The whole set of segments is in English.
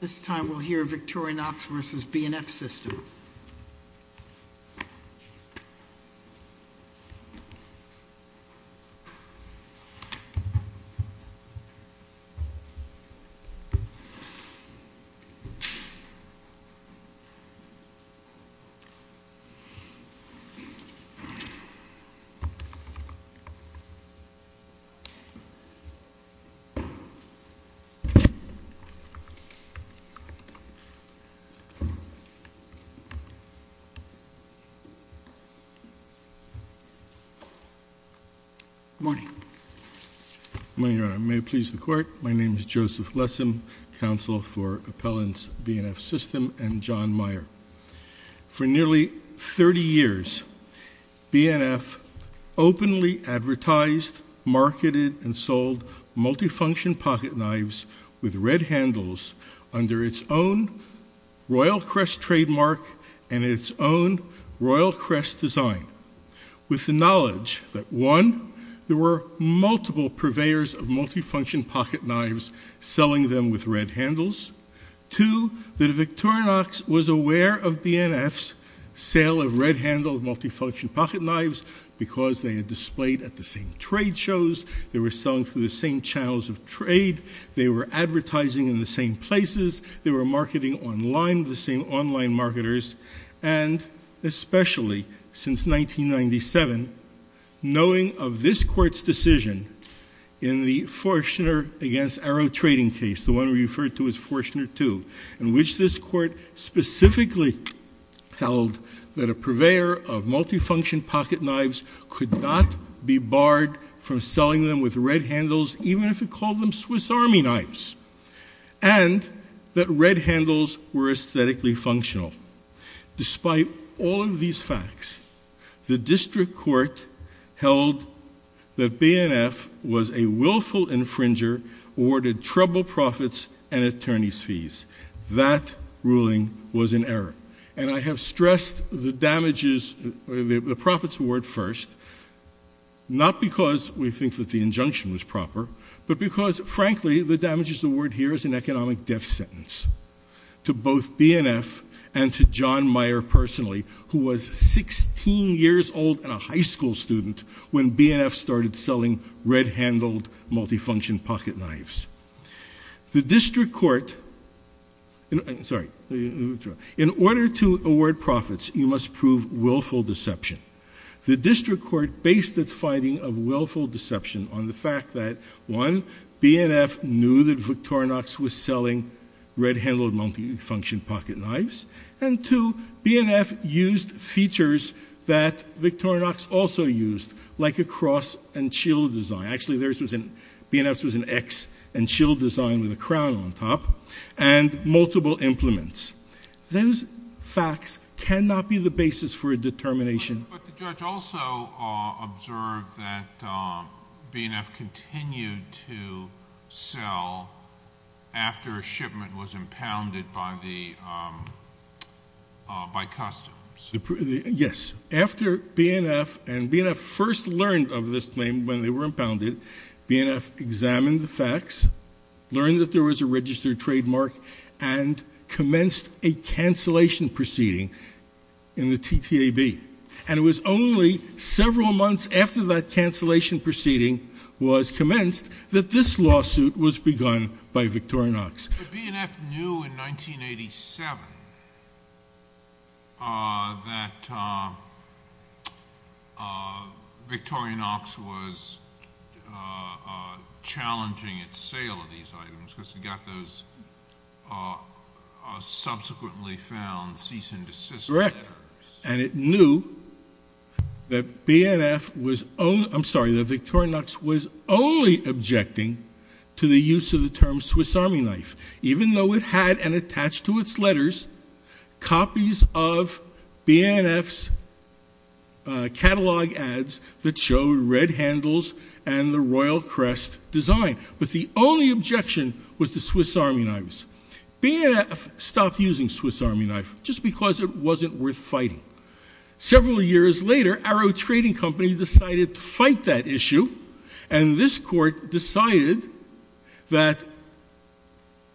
This time we'll hear Victorinox v. B&F System. Good morning, Your Honor. May it please the Court, my name is Joseph Glessin, counsel for Appellant's B&F System and John Meyer. For nearly 30 years, B&F openly advertised, marketed, and sold multifunction pocket knives with red handles under its own Royal Crest trademark and its own Royal Crest design, with the knowledge that, one, there were multiple purveyors of multifunction pocket knives selling them with red handles, two, that Victorinox was aware of B&F's sale of red-handled multifunction pocket knives because they had displayed at the same trade shows, they were selling through the same channels of trade, they were advertising in the same places, they were marketing online with the same online marketers, and especially since 1997, knowing of this Court's decision in the Forchner v. Arrow trading case, the one we referred to as Forchner II, in which this Court specifically held that a purveyor of multifunction pocket knives could not be barred from selling them with red handles, even if it called them Swiss Army knives, and that red handles were aesthetically functional. Despite all of these facts, the District Court held that B&F was a willful infringer, awarded trouble profits and attorney's fees. That ruling was in error, and I have stressed the damages, the profits award first, not because we think that the injunction was proper, but because, frankly, the damages award here is an economic death sentence to both B&F and to John Meyer personally, who was 16 years old and a high school student when B&F started selling red-handled multifunction pocket knives. The District Court, sorry, in order to award profits, you must prove willful deception. The District Court based its finding of willful deception on the fact that, one, B&F knew that Victorinox was selling red-handled multifunction pocket knives, and two, B&F used features that Victorinox also used, like a cross and shield design. Actually, B&F's was an X and shield design with a crown on top, and multiple implements. Those facts cannot be the basis for a determination... But the judge also observed that B&F continued to sell after a shipment was impounded by customs. Yes. After B&F, and B&F first learned of this claim when they were impounded, B&F examined the facts, learned that there was a registered trademark, and commenced a cancellation proceeding in the TTAB. And it was only several months after that cancellation proceeding was commenced that this lawsuit was begun by Victorinox. But B&F knew in 1987 that Victorinox was challenging its sale of these items, because it got those subsequently found cease and desist letters. Correct. And it knew that B&F was... I'm sorry, that Victorinox was only objecting to the use of the term Swiss Army Knife, even though it had and attached to its letters copies of B&F's catalog ads that showed red handles and the royal crest design. But the only objection was the Swiss Army Knives. B&F stopped using Swiss Army Knife just because it wasn't worth fighting. Several years later, Arrow Trading Company decided to fight that issue, and this court decided that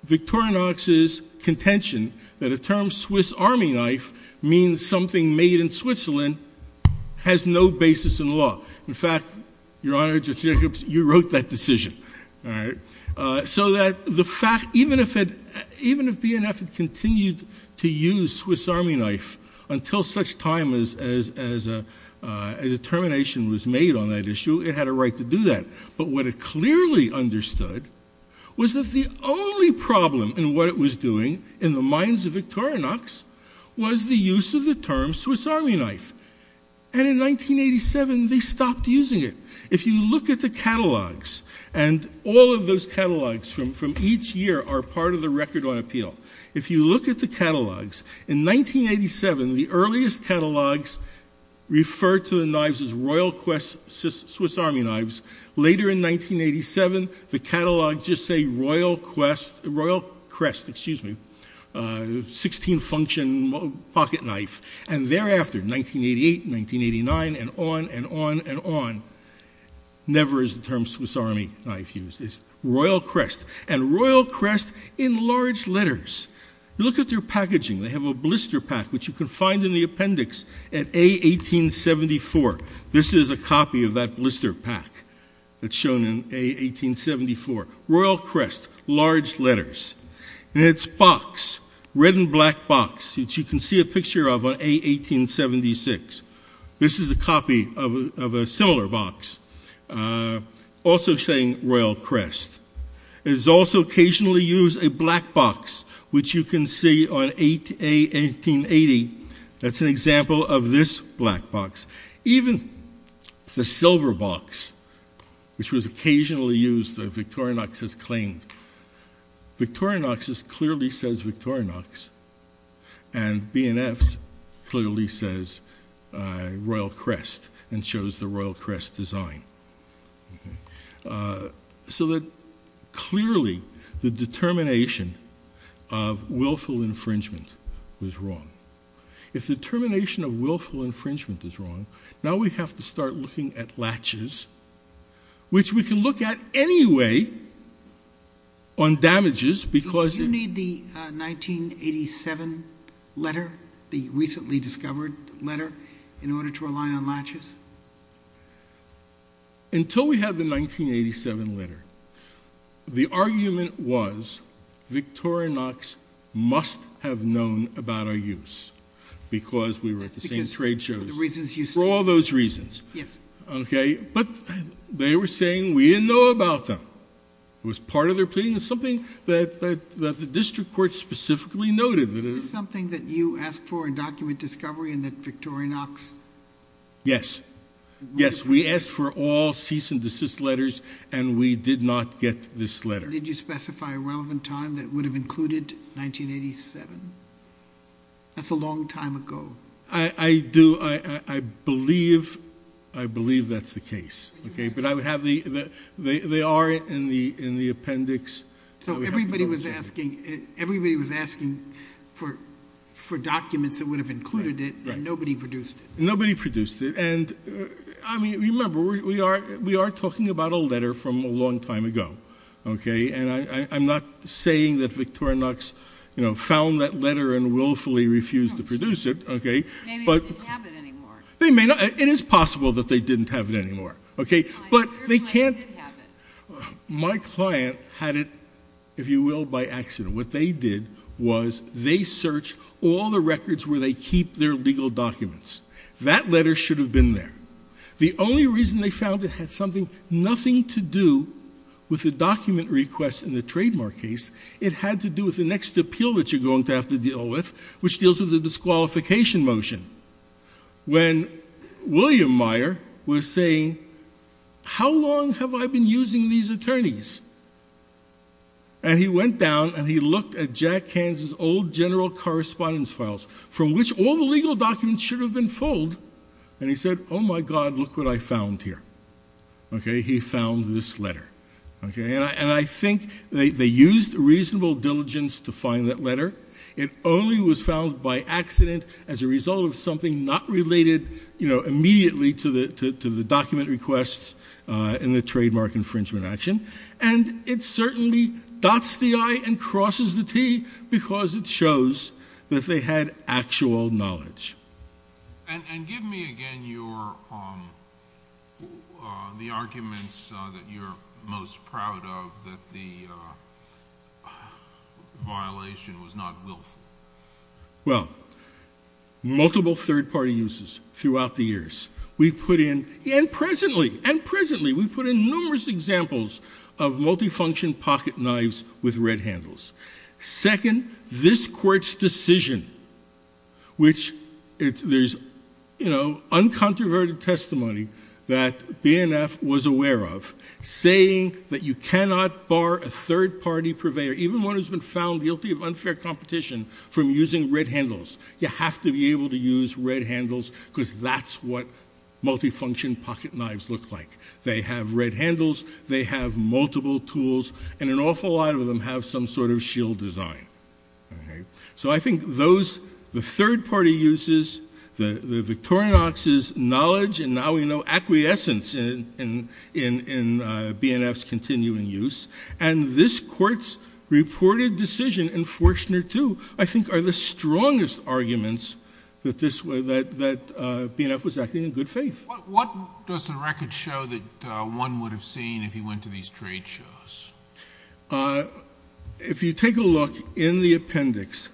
Victorinox's contention that a term Swiss Army Knife means something made in Switzerland has no basis in law. In fact, Your Honor, Judge Jacobs, you wrote that decision. So that the fact... even if B&F had continued to use Swiss Army Knife until such time as a determination was made on that issue, it had a right to do that. But what it clearly understood was that the only problem in what it was doing in the minds of Victorinox was the use of the term Swiss Army Knife. And in 1987, they stopped using it. If you look at the catalogs, and all of those catalogs from each year are part of the Record on Appeal, if you look at the catalogs, in 1987, the earliest catalogs referred to the knives as Royal Crest Swiss Army Knives. Later in 1987, the catalogs just say Royal Crest, excuse me, 16 function pocket knife. And thereafter, 1988, 1989, and on and on and on, never is the term Swiss Army Knife used. It's Royal Crest. And Royal Crest in large letters. Look at their packaging. They have a blister pack, which you can find in the appendix at A1874. This is a copy of that blister pack that's shown in A1874. Royal Crest, large letters. And its box, red and black box, which you can see a picture of on A1876. This is a copy of a similar box, also saying Royal Crest. It is also occasionally used a black box, which you can see on A1880. That's an example of this black box. Even the silver box, which was occasionally used that Victorinox has claimed. Victorinox clearly says Victorinox, and B&F's clearly says Royal Crest, and shows the Royal Crest design. So that clearly the determination of willful infringement was wrong. If the determination of willful infringement is wrong, now we have to start looking at latches, which we can look at anyway on damages because... Do you need the 1987 letter, the recently discovered letter, in order to rely on latches? Until we had the 1987 letter, the argument was Victorinox must have known about our use, because we were at the same trade shows. For all those reasons. Yes. Okay, but they were saying we didn't know about them. It was part of their pleading. It was something that the district court specifically noted. Is this something that you asked for in document discovery and that Victorinox... Yes. Yes, we asked for all cease and desist letters and we did not get this letter. Did you specify a relevant time that would have included 1987? That's a long time ago. I do. I believe that's the case. Okay, but I would have the... They are in the appendix. So everybody was asking for documents that would have included it and nobody produced it. Nobody produced it. Remember, we are talking about a letter from a long time ago. I'm not saying that Victorinox found that letter and willfully refused to produce it. Maybe they didn't have it anymore. It is possible that they didn't have it anymore. Okay, but they can't... My client had it, if you will, by accident. What they did was they searched all the records where they keep their legal documents. That letter should have been there. The only reason they found it had something, nothing to do with the document request in the trademark case. It had to do with the next appeal that you're going to have to deal with, which deals with the disqualification motion. When William Meyer was saying, how long have I been using these attorneys? And he went down and he looked at Jack Hansen's old general correspondence files, from which all the legal documents should have been filled. And he said, oh my God, look what I found here. Okay, he found this letter. Okay, and I think they used reasonable diligence to find that letter. It only was found by accident as a result of something not related immediately to the document request in the trademark infringement action. And it certainly dots the I and crosses the T because it shows that they had actual knowledge. And give me again the arguments that you're most proud of that the violation was not willful. Well, multiple third party uses throughout the years. We put in, and presently, and presently, we put in numerous examples of multifunction pocket knives with red handles. Second, this saying that you cannot bar a third party purveyor, even one who's been found guilty of unfair competition, from using red handles. You have to be able to use red handles because that's what multifunction pocket knives look like. They have red handles, they have multiple tools, and an awful lot of them have some sort of shield design. So I think the third BNF's continuing use, and this court's reported decision in Fortner II, I think are the strongest arguments that BNF was acting in good faith. What does the record show that one would have seen if he went to these trade shows? If you take a look in the appendix,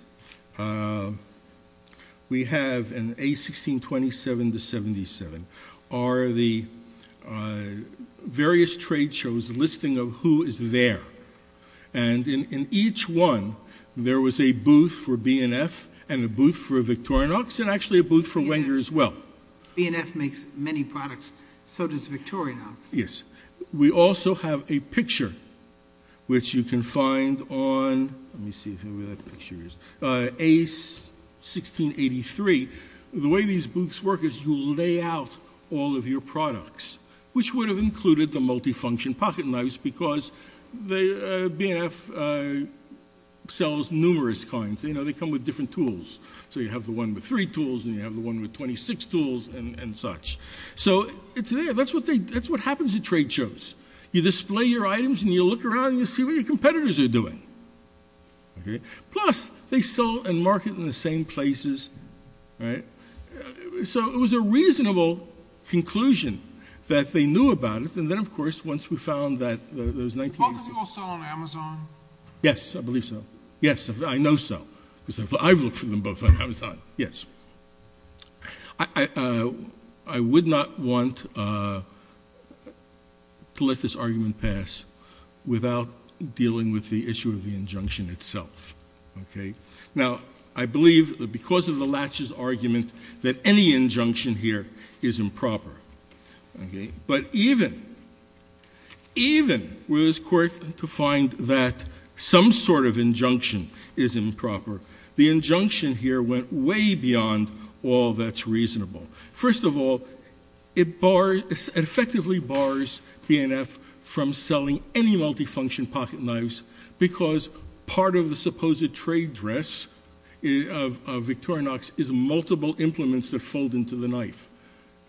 we have in A1627-77 are the various trade shows, listing of who is there. And in each one, there was a booth for BNF, and a booth for Victorinox, and actually a booth for Wenger as well. BNF makes many products, so does Victorinox. We also have a picture, which you can find on A1683. The way these booths work is you lay out all of your products, which would have included the multifunction pocket knives because BNF sells numerous kinds. They come with different tools. So you have the one with three tools, and you have the one with 26 tools, and such. So it's there. That's what happens at trade shows. You display your items, and you look around, and you see what your competitors are doing. Plus, they sell and market in the same places. So it was a reasonable conclusion that they knew about it. And then, of course, once we found that those 1980s... Both of you all sell on Amazon? Yes, I believe so. Yes, I know so, because I've looked for them both on Amazon. Yes. I would not want to let this argument pass without dealing with the issue of the injunction itself. Now, I believe that because of the Latch's argument that any injunction here is improper. But even with his court to find that some sort of injunction is improper, the injunction here went way beyond all that's reasonable. First of all, it effectively bars BNF from selling any multifunction pocket knives because part of the supposed trade dress of Victorinox is multiple implements that fold into the knife.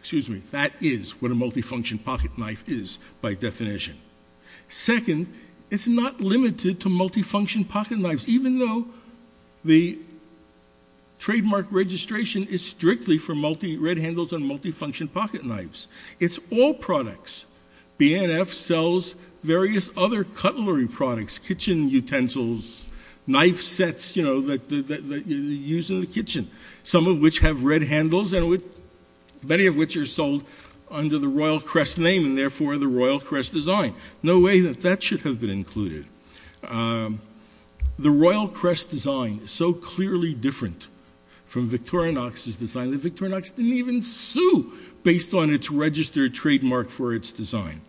Excuse me. That is what a multifunction pocket knife is by definition. Second, it's not limited to multifunction pocket knives, even though the trademark registration is strictly for multi-red handles and multifunction pocket knives. It's all products. BNF sells various other cutlery products, kitchen utensils, knife sets that you use in the kitchen, some of which have red handles and many of which are sold under the Royal Crest name and therefore the Royal Crest design. No way that that should have been included. The Royal Crest design is so clearly different from Victorinox's design that Victorinox didn't even sue based on its registered trademark for its design.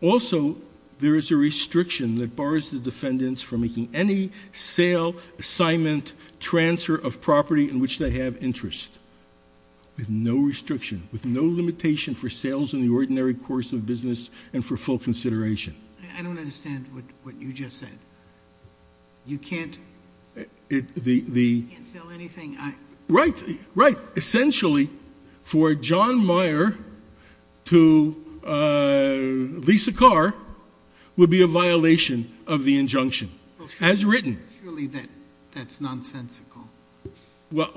Also there is a restriction that bars the defendants from making any sale, assignment, transfer of property in which they have interest with no restriction, with no limitation for the ordinary course of business and for full consideration. I don't understand what you just said. You can't sell anything. Right, right. Essentially for John Meyer to lease a car would be a violation of the injunction as written. Surely that's nonsensical. Well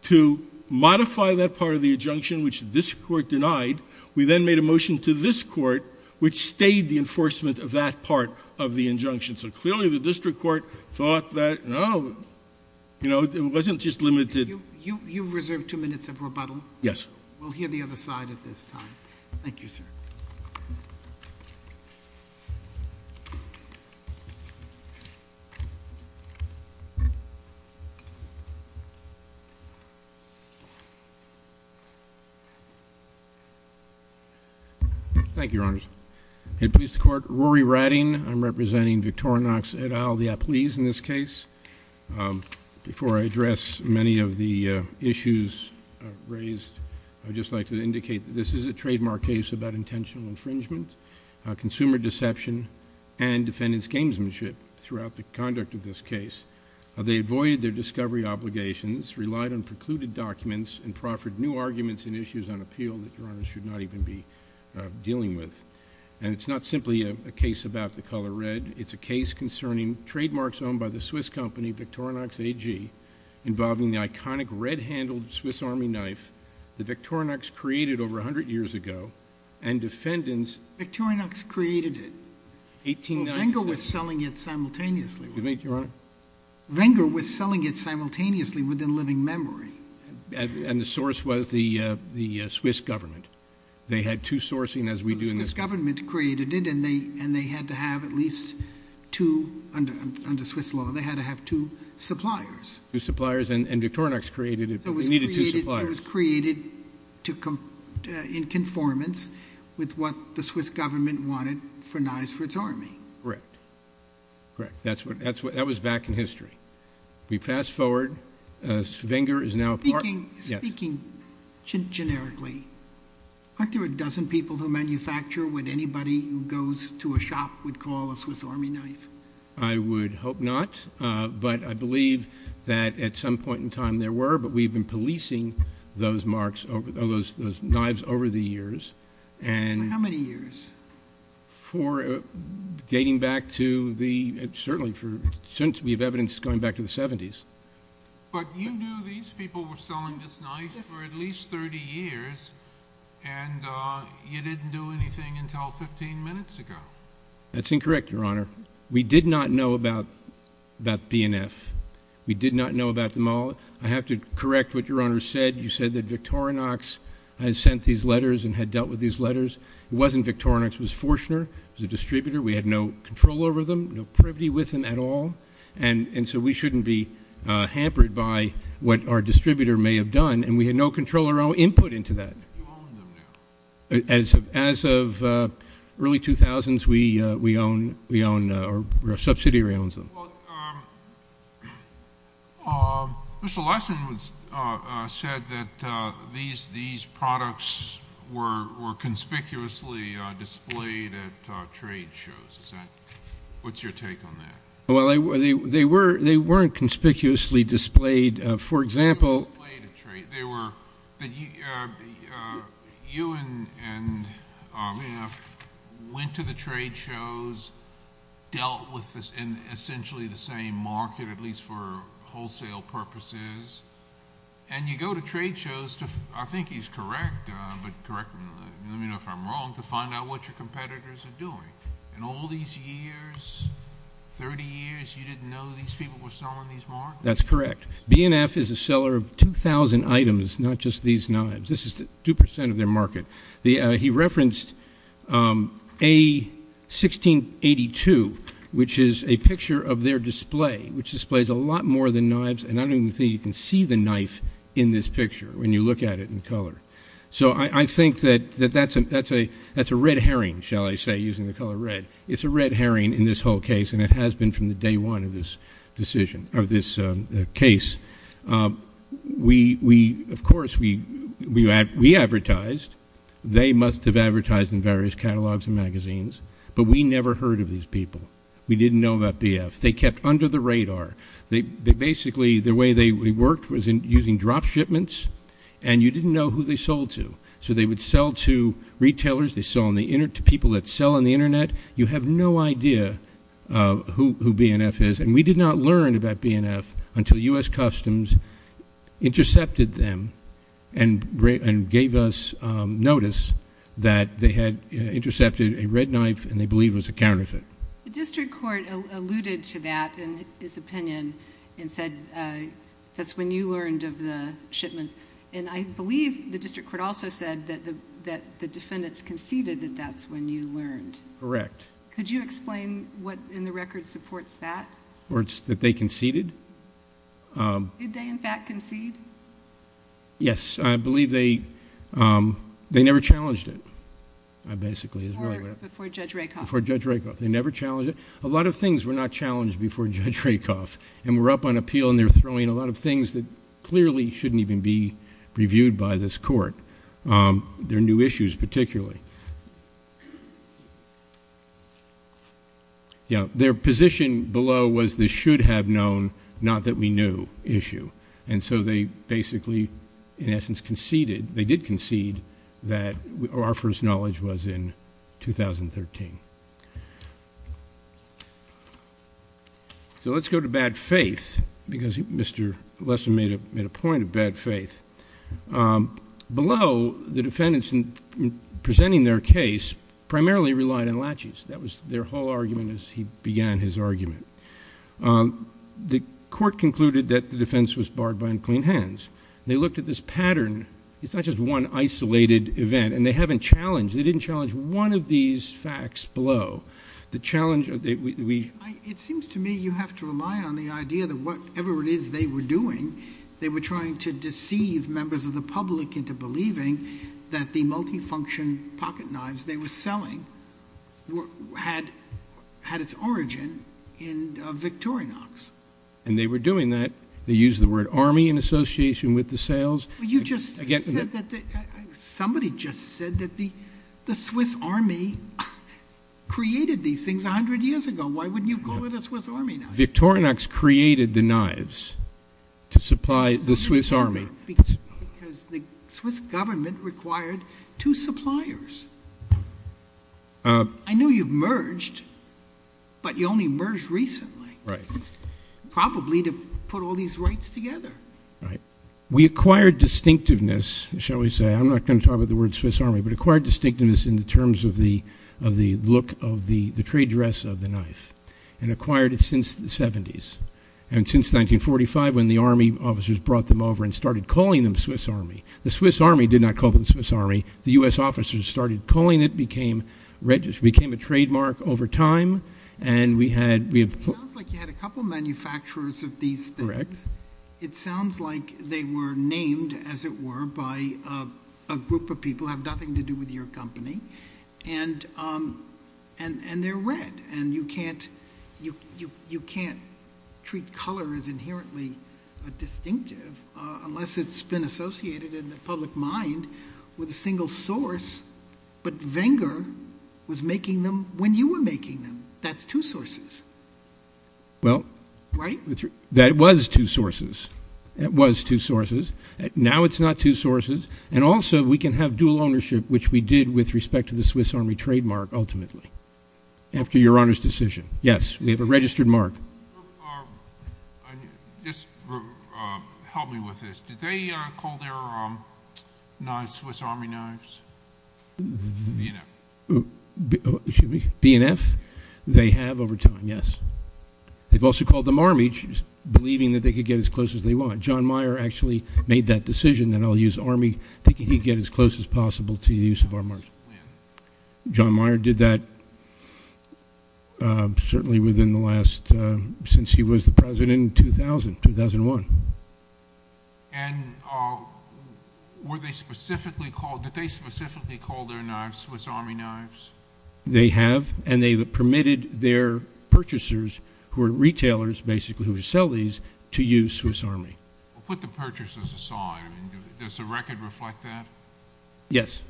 to modify that part of the injunction, which this court denied, we then made a motion to this court which stayed the enforcement of that part of the injunction. So clearly the district court thought that, no, you know, it wasn't just limited. You've reserved two minutes of rebuttal. Yes. We'll hear the other side at this time. Thank you, sir. Thank you, Your Honors. In police court, Rory Ratting. I'm representing Victorinox et al., the applese in this case. Before I address many of the issues raised, I would just like to indicate that this is a trademark case about intentional infringement, consumer deception and defendant's gamesmanship throughout the conduct of this case. They avoided their discovery obligations, relied on precluded documents and proffered new arguments and issues on appeal that Your Honors should not even be dealing with. And it's not simply a case about the color red. It's a case concerning trademarks owned by the Swiss company Victorinox AG involving the iconic red-handled Swiss Army knife that Victorinox created over a hundred years ago and defendants... Victorinox created it. 1890... Well, Venger was selling it simultaneously. Venger was selling it simultaneously within living memory. And the source was the Swiss government. They had two sourcing as we do... So the Swiss government created it and they had to have at least two, under Swiss law, they had to have two suppliers. Two suppliers. And Victorinox created it, but they needed two suppliers. So it was created in conformance with what the Swiss government wanted for knives for its army. Correct. Correct. That's what... That was back in history. We fast forward. Venger is now a part... Speaking... Yes. Speaking generically, aren't there a dozen people who manufacture what anybody who goes to a shop would call a Swiss Army knife? I would hope not, but I believe that at some point in time there were, but we've been policing those knives over the years and... For how many years? For dating back to the... Certainly, for... Since we have evidence going back to the 70s. But you knew these people were selling this knife for at least 30 years and you didn't do anything until 15 minutes ago. That's incorrect, Your Honor. We did not know about PNF. We did not know about them all. I have to correct what Your Honor said. You said that Victorinox had sent these letters and had dealt with these letters. It wasn't Victorinox. It was Forchner. It was a distributor. We had no control over them, no privity with them at all, and so we shouldn't be hampered by what our distributor may have done, and we had no control or input into that. You own them now. As of early 2000s, we own... Our subsidiary owns them. Well, Mr. Larson said that these products were conspicuously displayed at trade shows. What's your take on that? Well, they weren't conspicuously displayed. For example... And you go to trade shows to... I think he's correct, but let me know if I'm wrong... to find out what your competitors are doing. In all these years, 30 years, you didn't know these people were selling these knives? That's correct. BNF is a seller of 2,000 items, not just these knives. This is 2 percent of their market. He referenced A1682, which is a picture of their display, which displays a lot more than knives, and I don't even think you can see the knife in this picture when you look at it in color. So I think that that's a red herring, shall I say, using the color red. It's a red herring in this whole case, and it has been from the day one of this decision... of this case. We, of course, we advertised. They must have advertised in various catalogs and magazines, but we never heard of these people. We didn't know about BNF. They kept under the radar. Basically, the way they worked was using drop shipments, and you didn't know who they sold to. So they would sell to retailers. They sold to people that sell on the Internet. You have no idea who BNF is. We did not learn about BNF until U.S. Customs intercepted them and gave us notice that they had intercepted a red knife and they believed it was a counterfeit. The district court alluded to that in his opinion and said that's when you learned of the shipments, and I believe the district court also said that the defendants conceded that that's when you learned. Correct. Could you explain what in the record supports that? That they conceded? Did they, in fact, concede? Yes. I believe they never challenged it. Before Judge Rakoff. Before Judge Rakoff. They never challenged it. A lot of things were not challenged before Judge Rakoff, and we're up on appeal and they're throwing a lot of things that clearly shouldn't even be reviewed by this court. They're new issues, particularly. Their position below was they should have known, not that we knew, issue. And so they basically, in essence, conceded, they did concede, that our first knowledge was in 2013. So let's go to bad faith, because Mr. Lester made a point of bad faith. Below, the defendants presenting their case primarily relied on latches. That was their whole argument as he began his argument. The court concluded that the defense was barred by unclean hands. They looked at this pattern. It's not just one isolated event. And they haven't challenged, they didn't challenge one of these facts below. It seems to me you have to rely on the idea that whatever it is they were doing, they were trying to deceive members of the public into believing that the multifunction pocket knives they were selling had its origin in Victorinox. And they were doing that. They used the word army in association with the sales. Somebody just said that the Swiss army created these things 100 years ago. Why wouldn't you call it a Swiss army knife? Victorinox created the knives to supply the Swiss army. Because the Swiss government required two suppliers. I know you've merged, but you only merged recently. Probably to put all these rights together. We acquired distinctiveness, shall we say. I'm not going to talk about the word Swiss army, but acquired distinctiveness in the terms of the look of the trade dress of the knife. And acquired it since the 70s. And since 1945 when the army officers brought them over and started calling them Swiss army. The Swiss army did not call them Swiss army. The U.S. officers started calling it, became a trademark over time. It sounds like you had a couple manufacturers of these things. Correct. It sounds like they were named, as it were, by a group of people who have nothing to do with your company. And they're red. And you can't treat color as inherently distinctive unless it's been associated in the public mind with a single source. But Wenger was making them when you were making them. That's two sources. Well, that was two sources. It was two sources. Now it's not two sources. And also we can have dual ownership, which we did with respect to the Swiss army trademark ultimately. After your Honor's decision. Yes, we have a registered mark. Just help me with this. Did they call their non-Swiss army knives B and F? Excuse me? B and F? They have over time, yes. They've also called them army, believing that they could get as close as they want. John Mayer actually made that decision that I'll use army, thinking he'd get as close as possible to the use of our marks. John Mayer did that certainly within the last, since he was the president in 2000, 2001. And were they specifically called, did they specifically call their knives Swiss army knives? They have, and they permitted their purchasers, who are retailers basically who sell these, to use Swiss army. Put the purchasers aside. Does the record reflect that? Yes.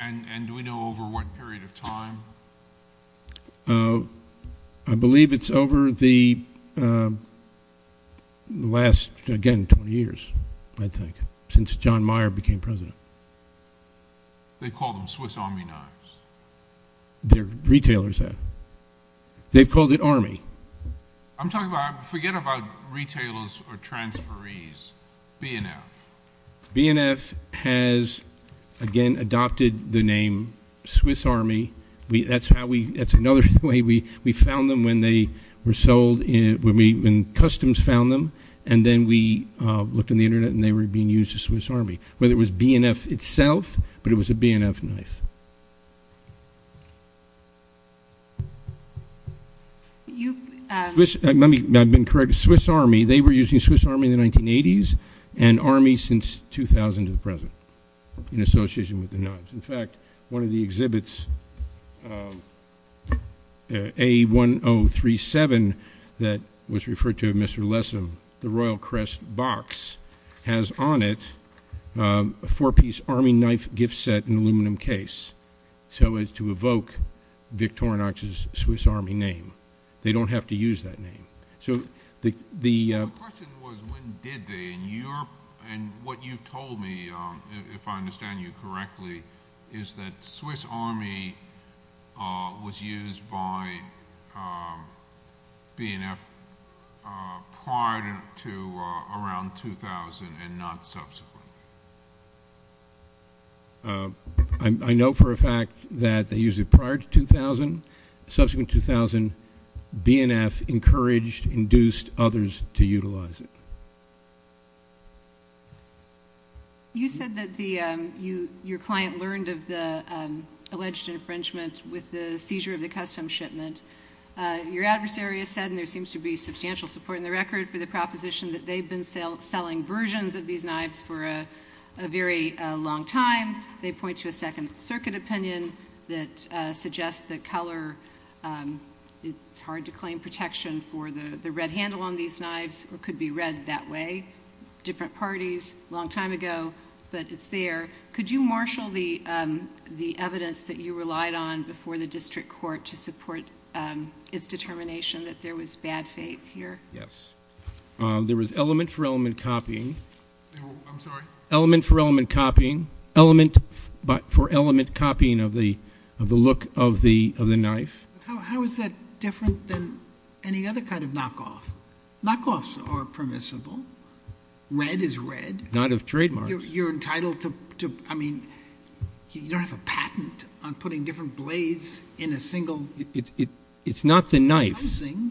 And do we know over what period of time? I believe it's over the last, again, 20 years, I think, since John Mayer became president. They call them Swiss army knives? Their retailers have. They've called it army. I'm talking about, forget about retailers or transferees. B and F. B and F has, again, adopted the name Swiss army. That's how we, that's another way we found them when they were sold, when customs found them, and then we looked on the Internet and they were being used as Swiss army. Whether it was B and F itself, but it was a B and F knife. Let me, I've been corrected, Swiss army, they were using Swiss army in the 1980s, and army since 2000 to the present, in association with the knives. In fact, one of the exhibits, A1037, that was referred to as Mr. Lessam, the royal crest box, has on it a four-piece army knife gift set in aluminum case, so as to evoke Victorinox's Swiss army name. They don't have to use that name. The question was when did they, and what you've told me, if I understand you correctly, is that Swiss army was used by B and F prior to around 2000 and not subsequently. I know for a fact that they used it prior to 2000. Subsequent to 2000, B and F encouraged, induced others to utilize it. You said that your client learned of the alleged infringement with the seizure of the custom shipment. Your adversary has said, and there seems to be substantial support in the record for the proposition, that they've been selling versions of these knives for a very long time. They point to a Second Circuit opinion that suggests that color, it's hard to claim protection for the red handle on these knives, or it could be read that way. Different parties, long time ago, but it's there. Could you marshal the evidence that you relied on before the district court to support its determination that there was bad faith here? Yes. There was element for element copying. I'm sorry? Element for element copying. Element for element copying of the look of the knife. How is that different than any other kind of knockoff? Knockoffs are permissible. Red is red. Not of trademarks. You're entitled to, I mean, you don't have a patent on putting different blades in a single housing. It's not the knife.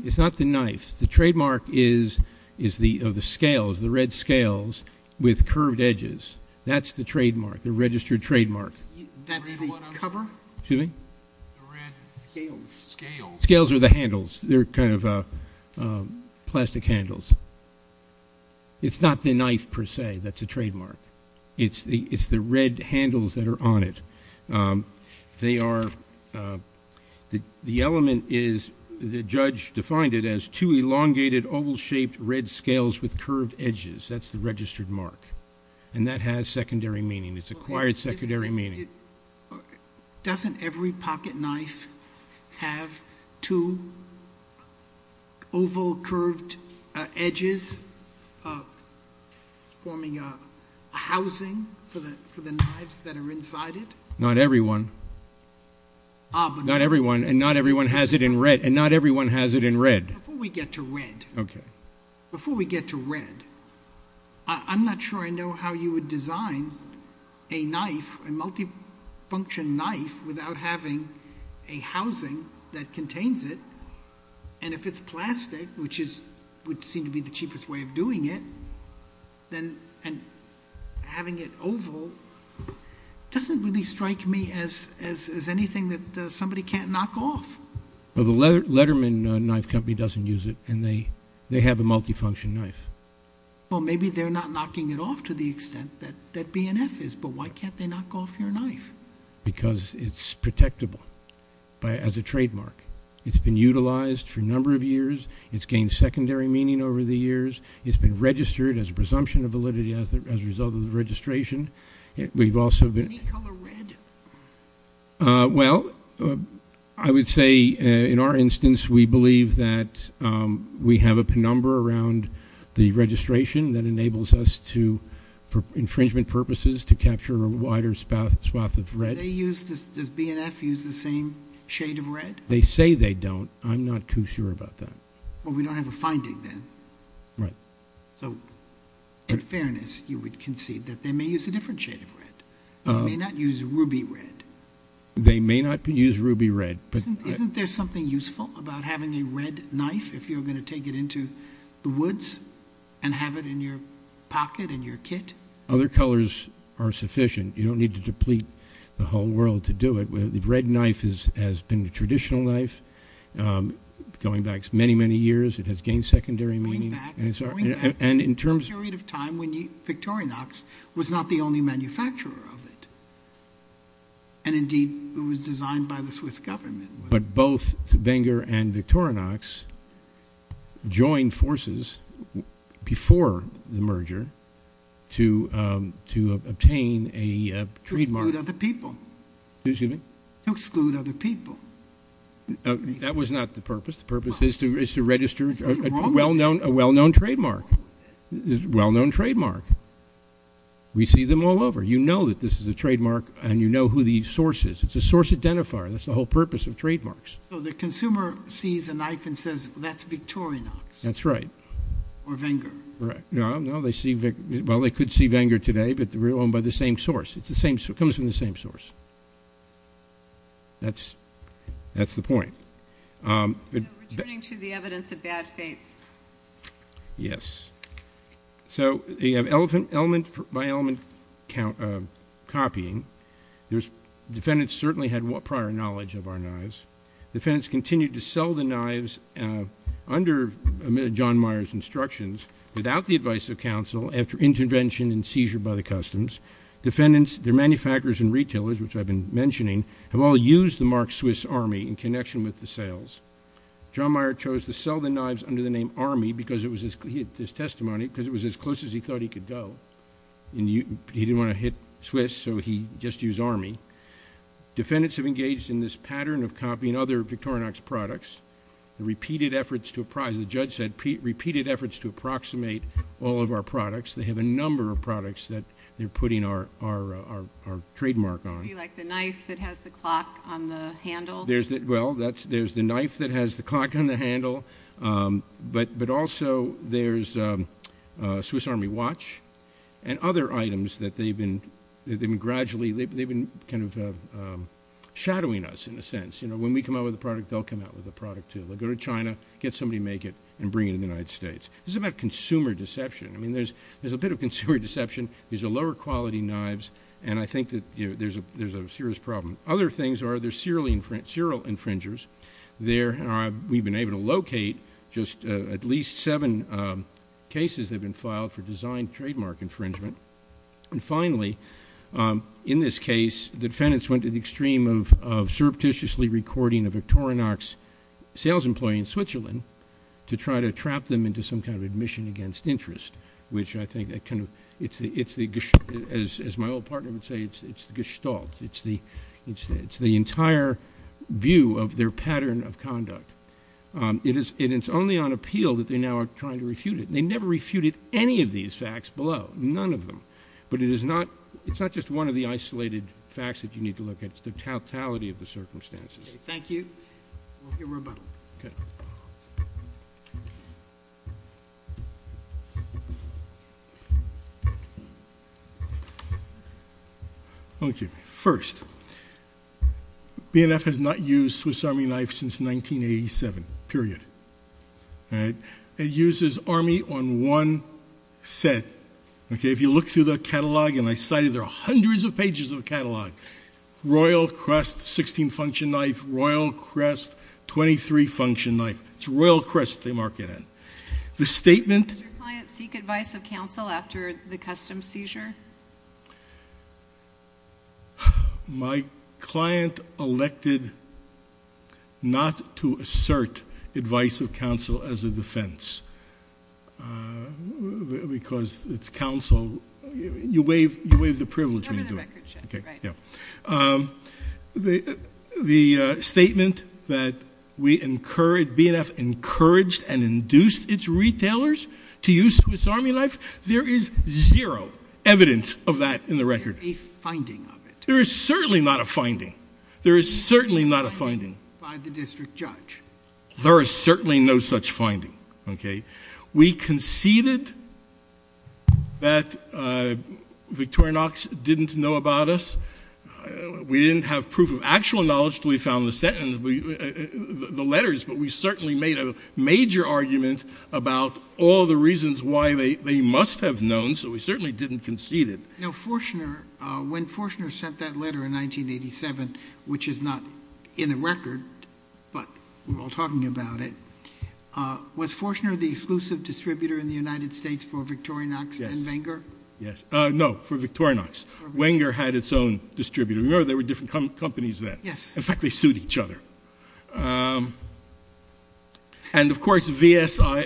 It's not the knife. The trademark is the scales, the red scales with curved edges. That's the trademark, the registered trademark. That's the cover? Excuse me? The red scales. Scales. Scales are the handles. They're kind of plastic handles. It's not the knife, per se. That's a trademark. It's the red handles that are on it. They are, the element is, the judge defined it as two elongated oval-shaped red scales with curved edges. That's the registered mark. And that has secondary meaning. It's acquired secondary meaning. Doesn't every pocket knife have two oval curved edges forming a housing for the knives that are inside it? Not everyone. Not everyone. And not everyone has it in red. And not everyone has it in red. Before we get to red. Okay. A multifunction knife without having a housing that contains it, and if it's plastic, which would seem to be the cheapest way of doing it, and having it oval doesn't really strike me as anything that somebody can't knock off. The Letterman Knife Company doesn't use it, and they have a multifunction knife. Well, maybe they're not knocking it off to the extent that BNF is, but why can't they knock off your knife? Because it's protectable as a trademark. It's been utilized for a number of years. It's gained secondary meaning over the years. It's been registered as a presumption of validity as a result of the registration. We've also been ---- Any color red? Well, I would say, in our instance, we believe that we have a penumbra around the registration that enables us to, for infringement purposes, to capture a wider swath of red. Do they use this? Does BNF use the same shade of red? They say they don't. I'm not too sure about that. Well, we don't have a finding then. Right. So, in fairness, you would concede that they may use a different shade of red. They may not use ruby red. They may not use ruby red. Isn't there something useful about having a red knife if you're going to take it into the woods and have it in your pocket, in your kit? Other colors are sufficient. You don't need to deplete the whole world to do it. The red knife has been a traditional knife going back many, many years. It has gained secondary meaning. And in terms of the period of time when Victorinox was not the only manufacturer of it. And, indeed, it was designed by the Swiss government. But both Benger and Victorinox joined forces before the merger to obtain a trademark. To exclude other people. Excuse me? To exclude other people. That was not the purpose. The purpose is to register a well-known trademark. A well-known trademark. We see them all over. You know that this is a trademark, and you know who the source is. It's a source identifier. That's the whole purpose of trademarks. So, the consumer sees a knife and says, that's Victorinox. That's right. Or Benger. Correct. Well, they could see Benger today, but they're owned by the same source. It comes from the same source. That's the point. Returning to the evidence of bad faith. Yes. So, you have element by element copying. Defendants certainly had prior knowledge of our knives. Defendants continued to sell the knives under John Meyer's instructions, without the advice of counsel, after intervention and seizure by the customs. Defendants, their manufacturers and retailers, which I've been mentioning, have all used the Mark Swiss Army in connection with the sales. John Meyer chose to sell the knives under the name Army because it was his testimony, because it was as close as he thought he could go. He didn't want to hit Swiss, so he just used Army. Defendants have engaged in this pattern of copying other Victorinox products. The repeated efforts to apprise, the judge said, repeated efforts to approximate all of our products. They have a number of products that they're putting our trademark on. Like the knife that has the clock on the handle? Well, there's the knife that has the clock on the handle, but also there's a Swiss Army watch and other items that they've been kind of shadowing us, in a sense. When we come out with a product, they'll come out with a product, too. They'll go to China, get somebody to make it, and bring it to the United States. This is about consumer deception. There's a bit of consumer deception. These are lower-quality knives, and I think that there's a serious problem. Other things are there's serial infringers. We've been able to locate just at least seven cases that have been filed for designed trademark infringement. And finally, in this case, defendants went to the extreme of surreptitiously recording a Victorinox sales employee in Switzerland to try to trap them into some kind of admission against interest, which I think, as my old partner would say, it's the gestalt. It's the entire view of their pattern of conduct. It is only on appeal that they now are trying to refute it. They never refuted any of these facts below, none of them. But it's not just one of the isolated facts that you need to look at. It's the totality of the circumstances. Thank you. We'll hear more about it. Okay. Thank you. First, BNF has not used Swiss Army knife since 1987, period. It uses Army on one set. If you look through the catalog, and I cited there are hundreds of pages of the catalog, Royal Crest 16-function knife, Royal Crest 23-function knife. It's Royal Crest they mark it in. Does your client seek advice of counsel after the custom seizure? My client elected not to assert advice of counsel as a defense because it's counsel. You waive the privilege. Right. The statement that BNF encouraged and induced its retailers to use Swiss Army knife, there is zero evidence of that in the record. Is there a finding of it? There is certainly not a finding. There is certainly not a finding. Is there a finding by the district judge? There is certainly no such finding. Okay. We conceded that Victorinox didn't know about us. We didn't have proof of actual knowledge until we found the letters, but we certainly made a major argument about all the reasons why they must have known, so we certainly didn't concede it. Now, when Forchner sent that letter in 1987, which is not in the record, but we're all talking about it, was Forchner the exclusive distributor in the United States for Victorinox and Wenger? Yes. No, for Victorinox. Wenger had its own distributor. Remember, there were different companies then. Yes. In fact, they sued each other. And, of course, VSAI,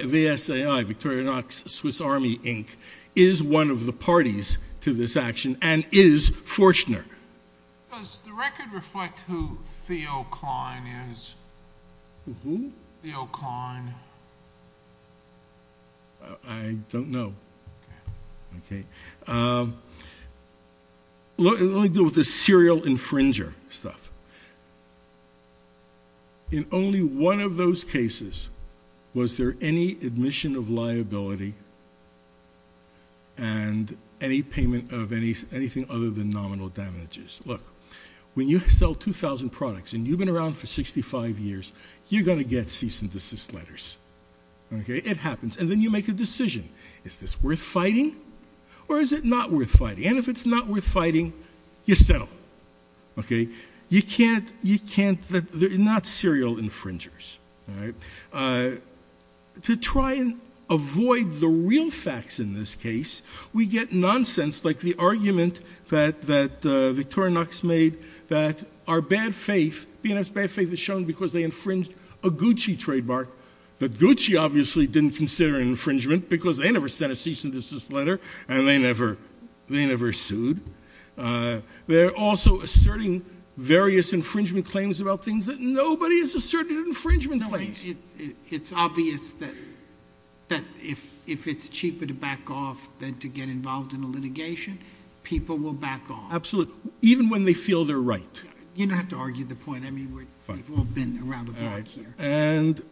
Victorinox, Swiss Army, Inc., is one of the parties to this action and is Forchner. Does the record reflect who Theo Klein is? Who? Theo Klein. I don't know. Okay. Let me deal with the serial infringer stuff. In only one of those cases was there any admission of liability and any payment of anything other than nominal damages. Look, when you sell 2,000 products and you've been around for 65 years, you're going to get cease and desist letters. It happens. And then you make a decision. Is this worth fighting or is it not worth fighting? And if it's not worth fighting, you settle. Okay? They're not serial infringers. To try and avoid the real facts in this case, we get nonsense like the argument that Victorinox made that our bad faith, BNF's bad faith is shown because they infringed a Gucci trademark that Gucci obviously didn't consider infringement because they never sent a cease and desist letter and they never sued. They're also asserting various infringement claims about things that nobody has asserted infringement claims. It's obvious that if it's cheaper to back off than to get involved in a litigation, people will back off. Absolutely, even when they feel they're right. You don't have to argue the point. I mean, we've all been around the block here. And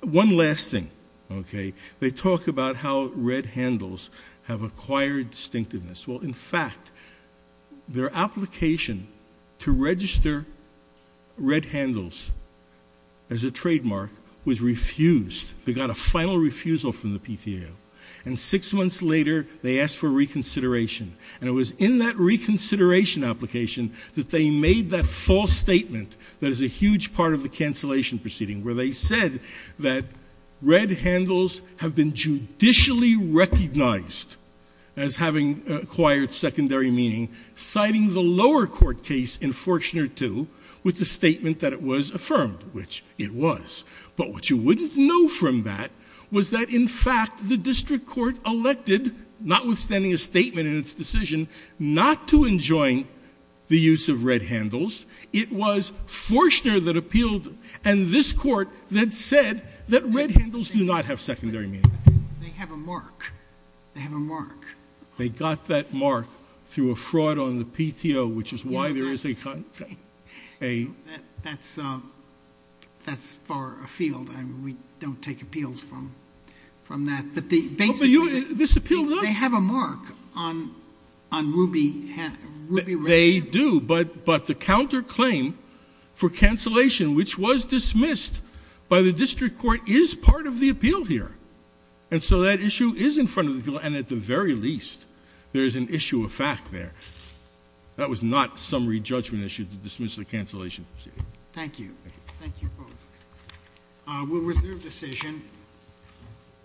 one last thing, okay? They talk about how red handles have acquired distinctiveness. Well, in fact, their application to register red handles as a trademark was refused. They got a final refusal from the PTA. And six months later, they asked for reconsideration. And it was in that reconsideration application that they made that false statement that is a huge part of the cancellation proceeding, where they said that red handles have been judicially recognized as having acquired secondary meaning, citing the lower court case in Forchner II with the statement that it was affirmed, which it was. But what you wouldn't know from that was that, in fact, the district court elected, notwithstanding a statement in its decision, not to enjoin the use of red handles. It was Forchner that appealed, and this court that said that red handles do not have secondary meaning. They have a mark. They have a mark. They got that mark through a fraud on the PTO, which is why there is a kind of a — That's far afield. We don't take appeals from that. But basically, they have a mark on ruby red handles. They do. But the counterclaim for cancellation, which was dismissed by the district court, is part of the appeal here. And so that issue is in front of the appeal. And at the very least, there is an issue of fact there. That was not a summary judgment issue to dismiss the cancellation proceeding. Thank you. Thank you both. We'll reserve decision.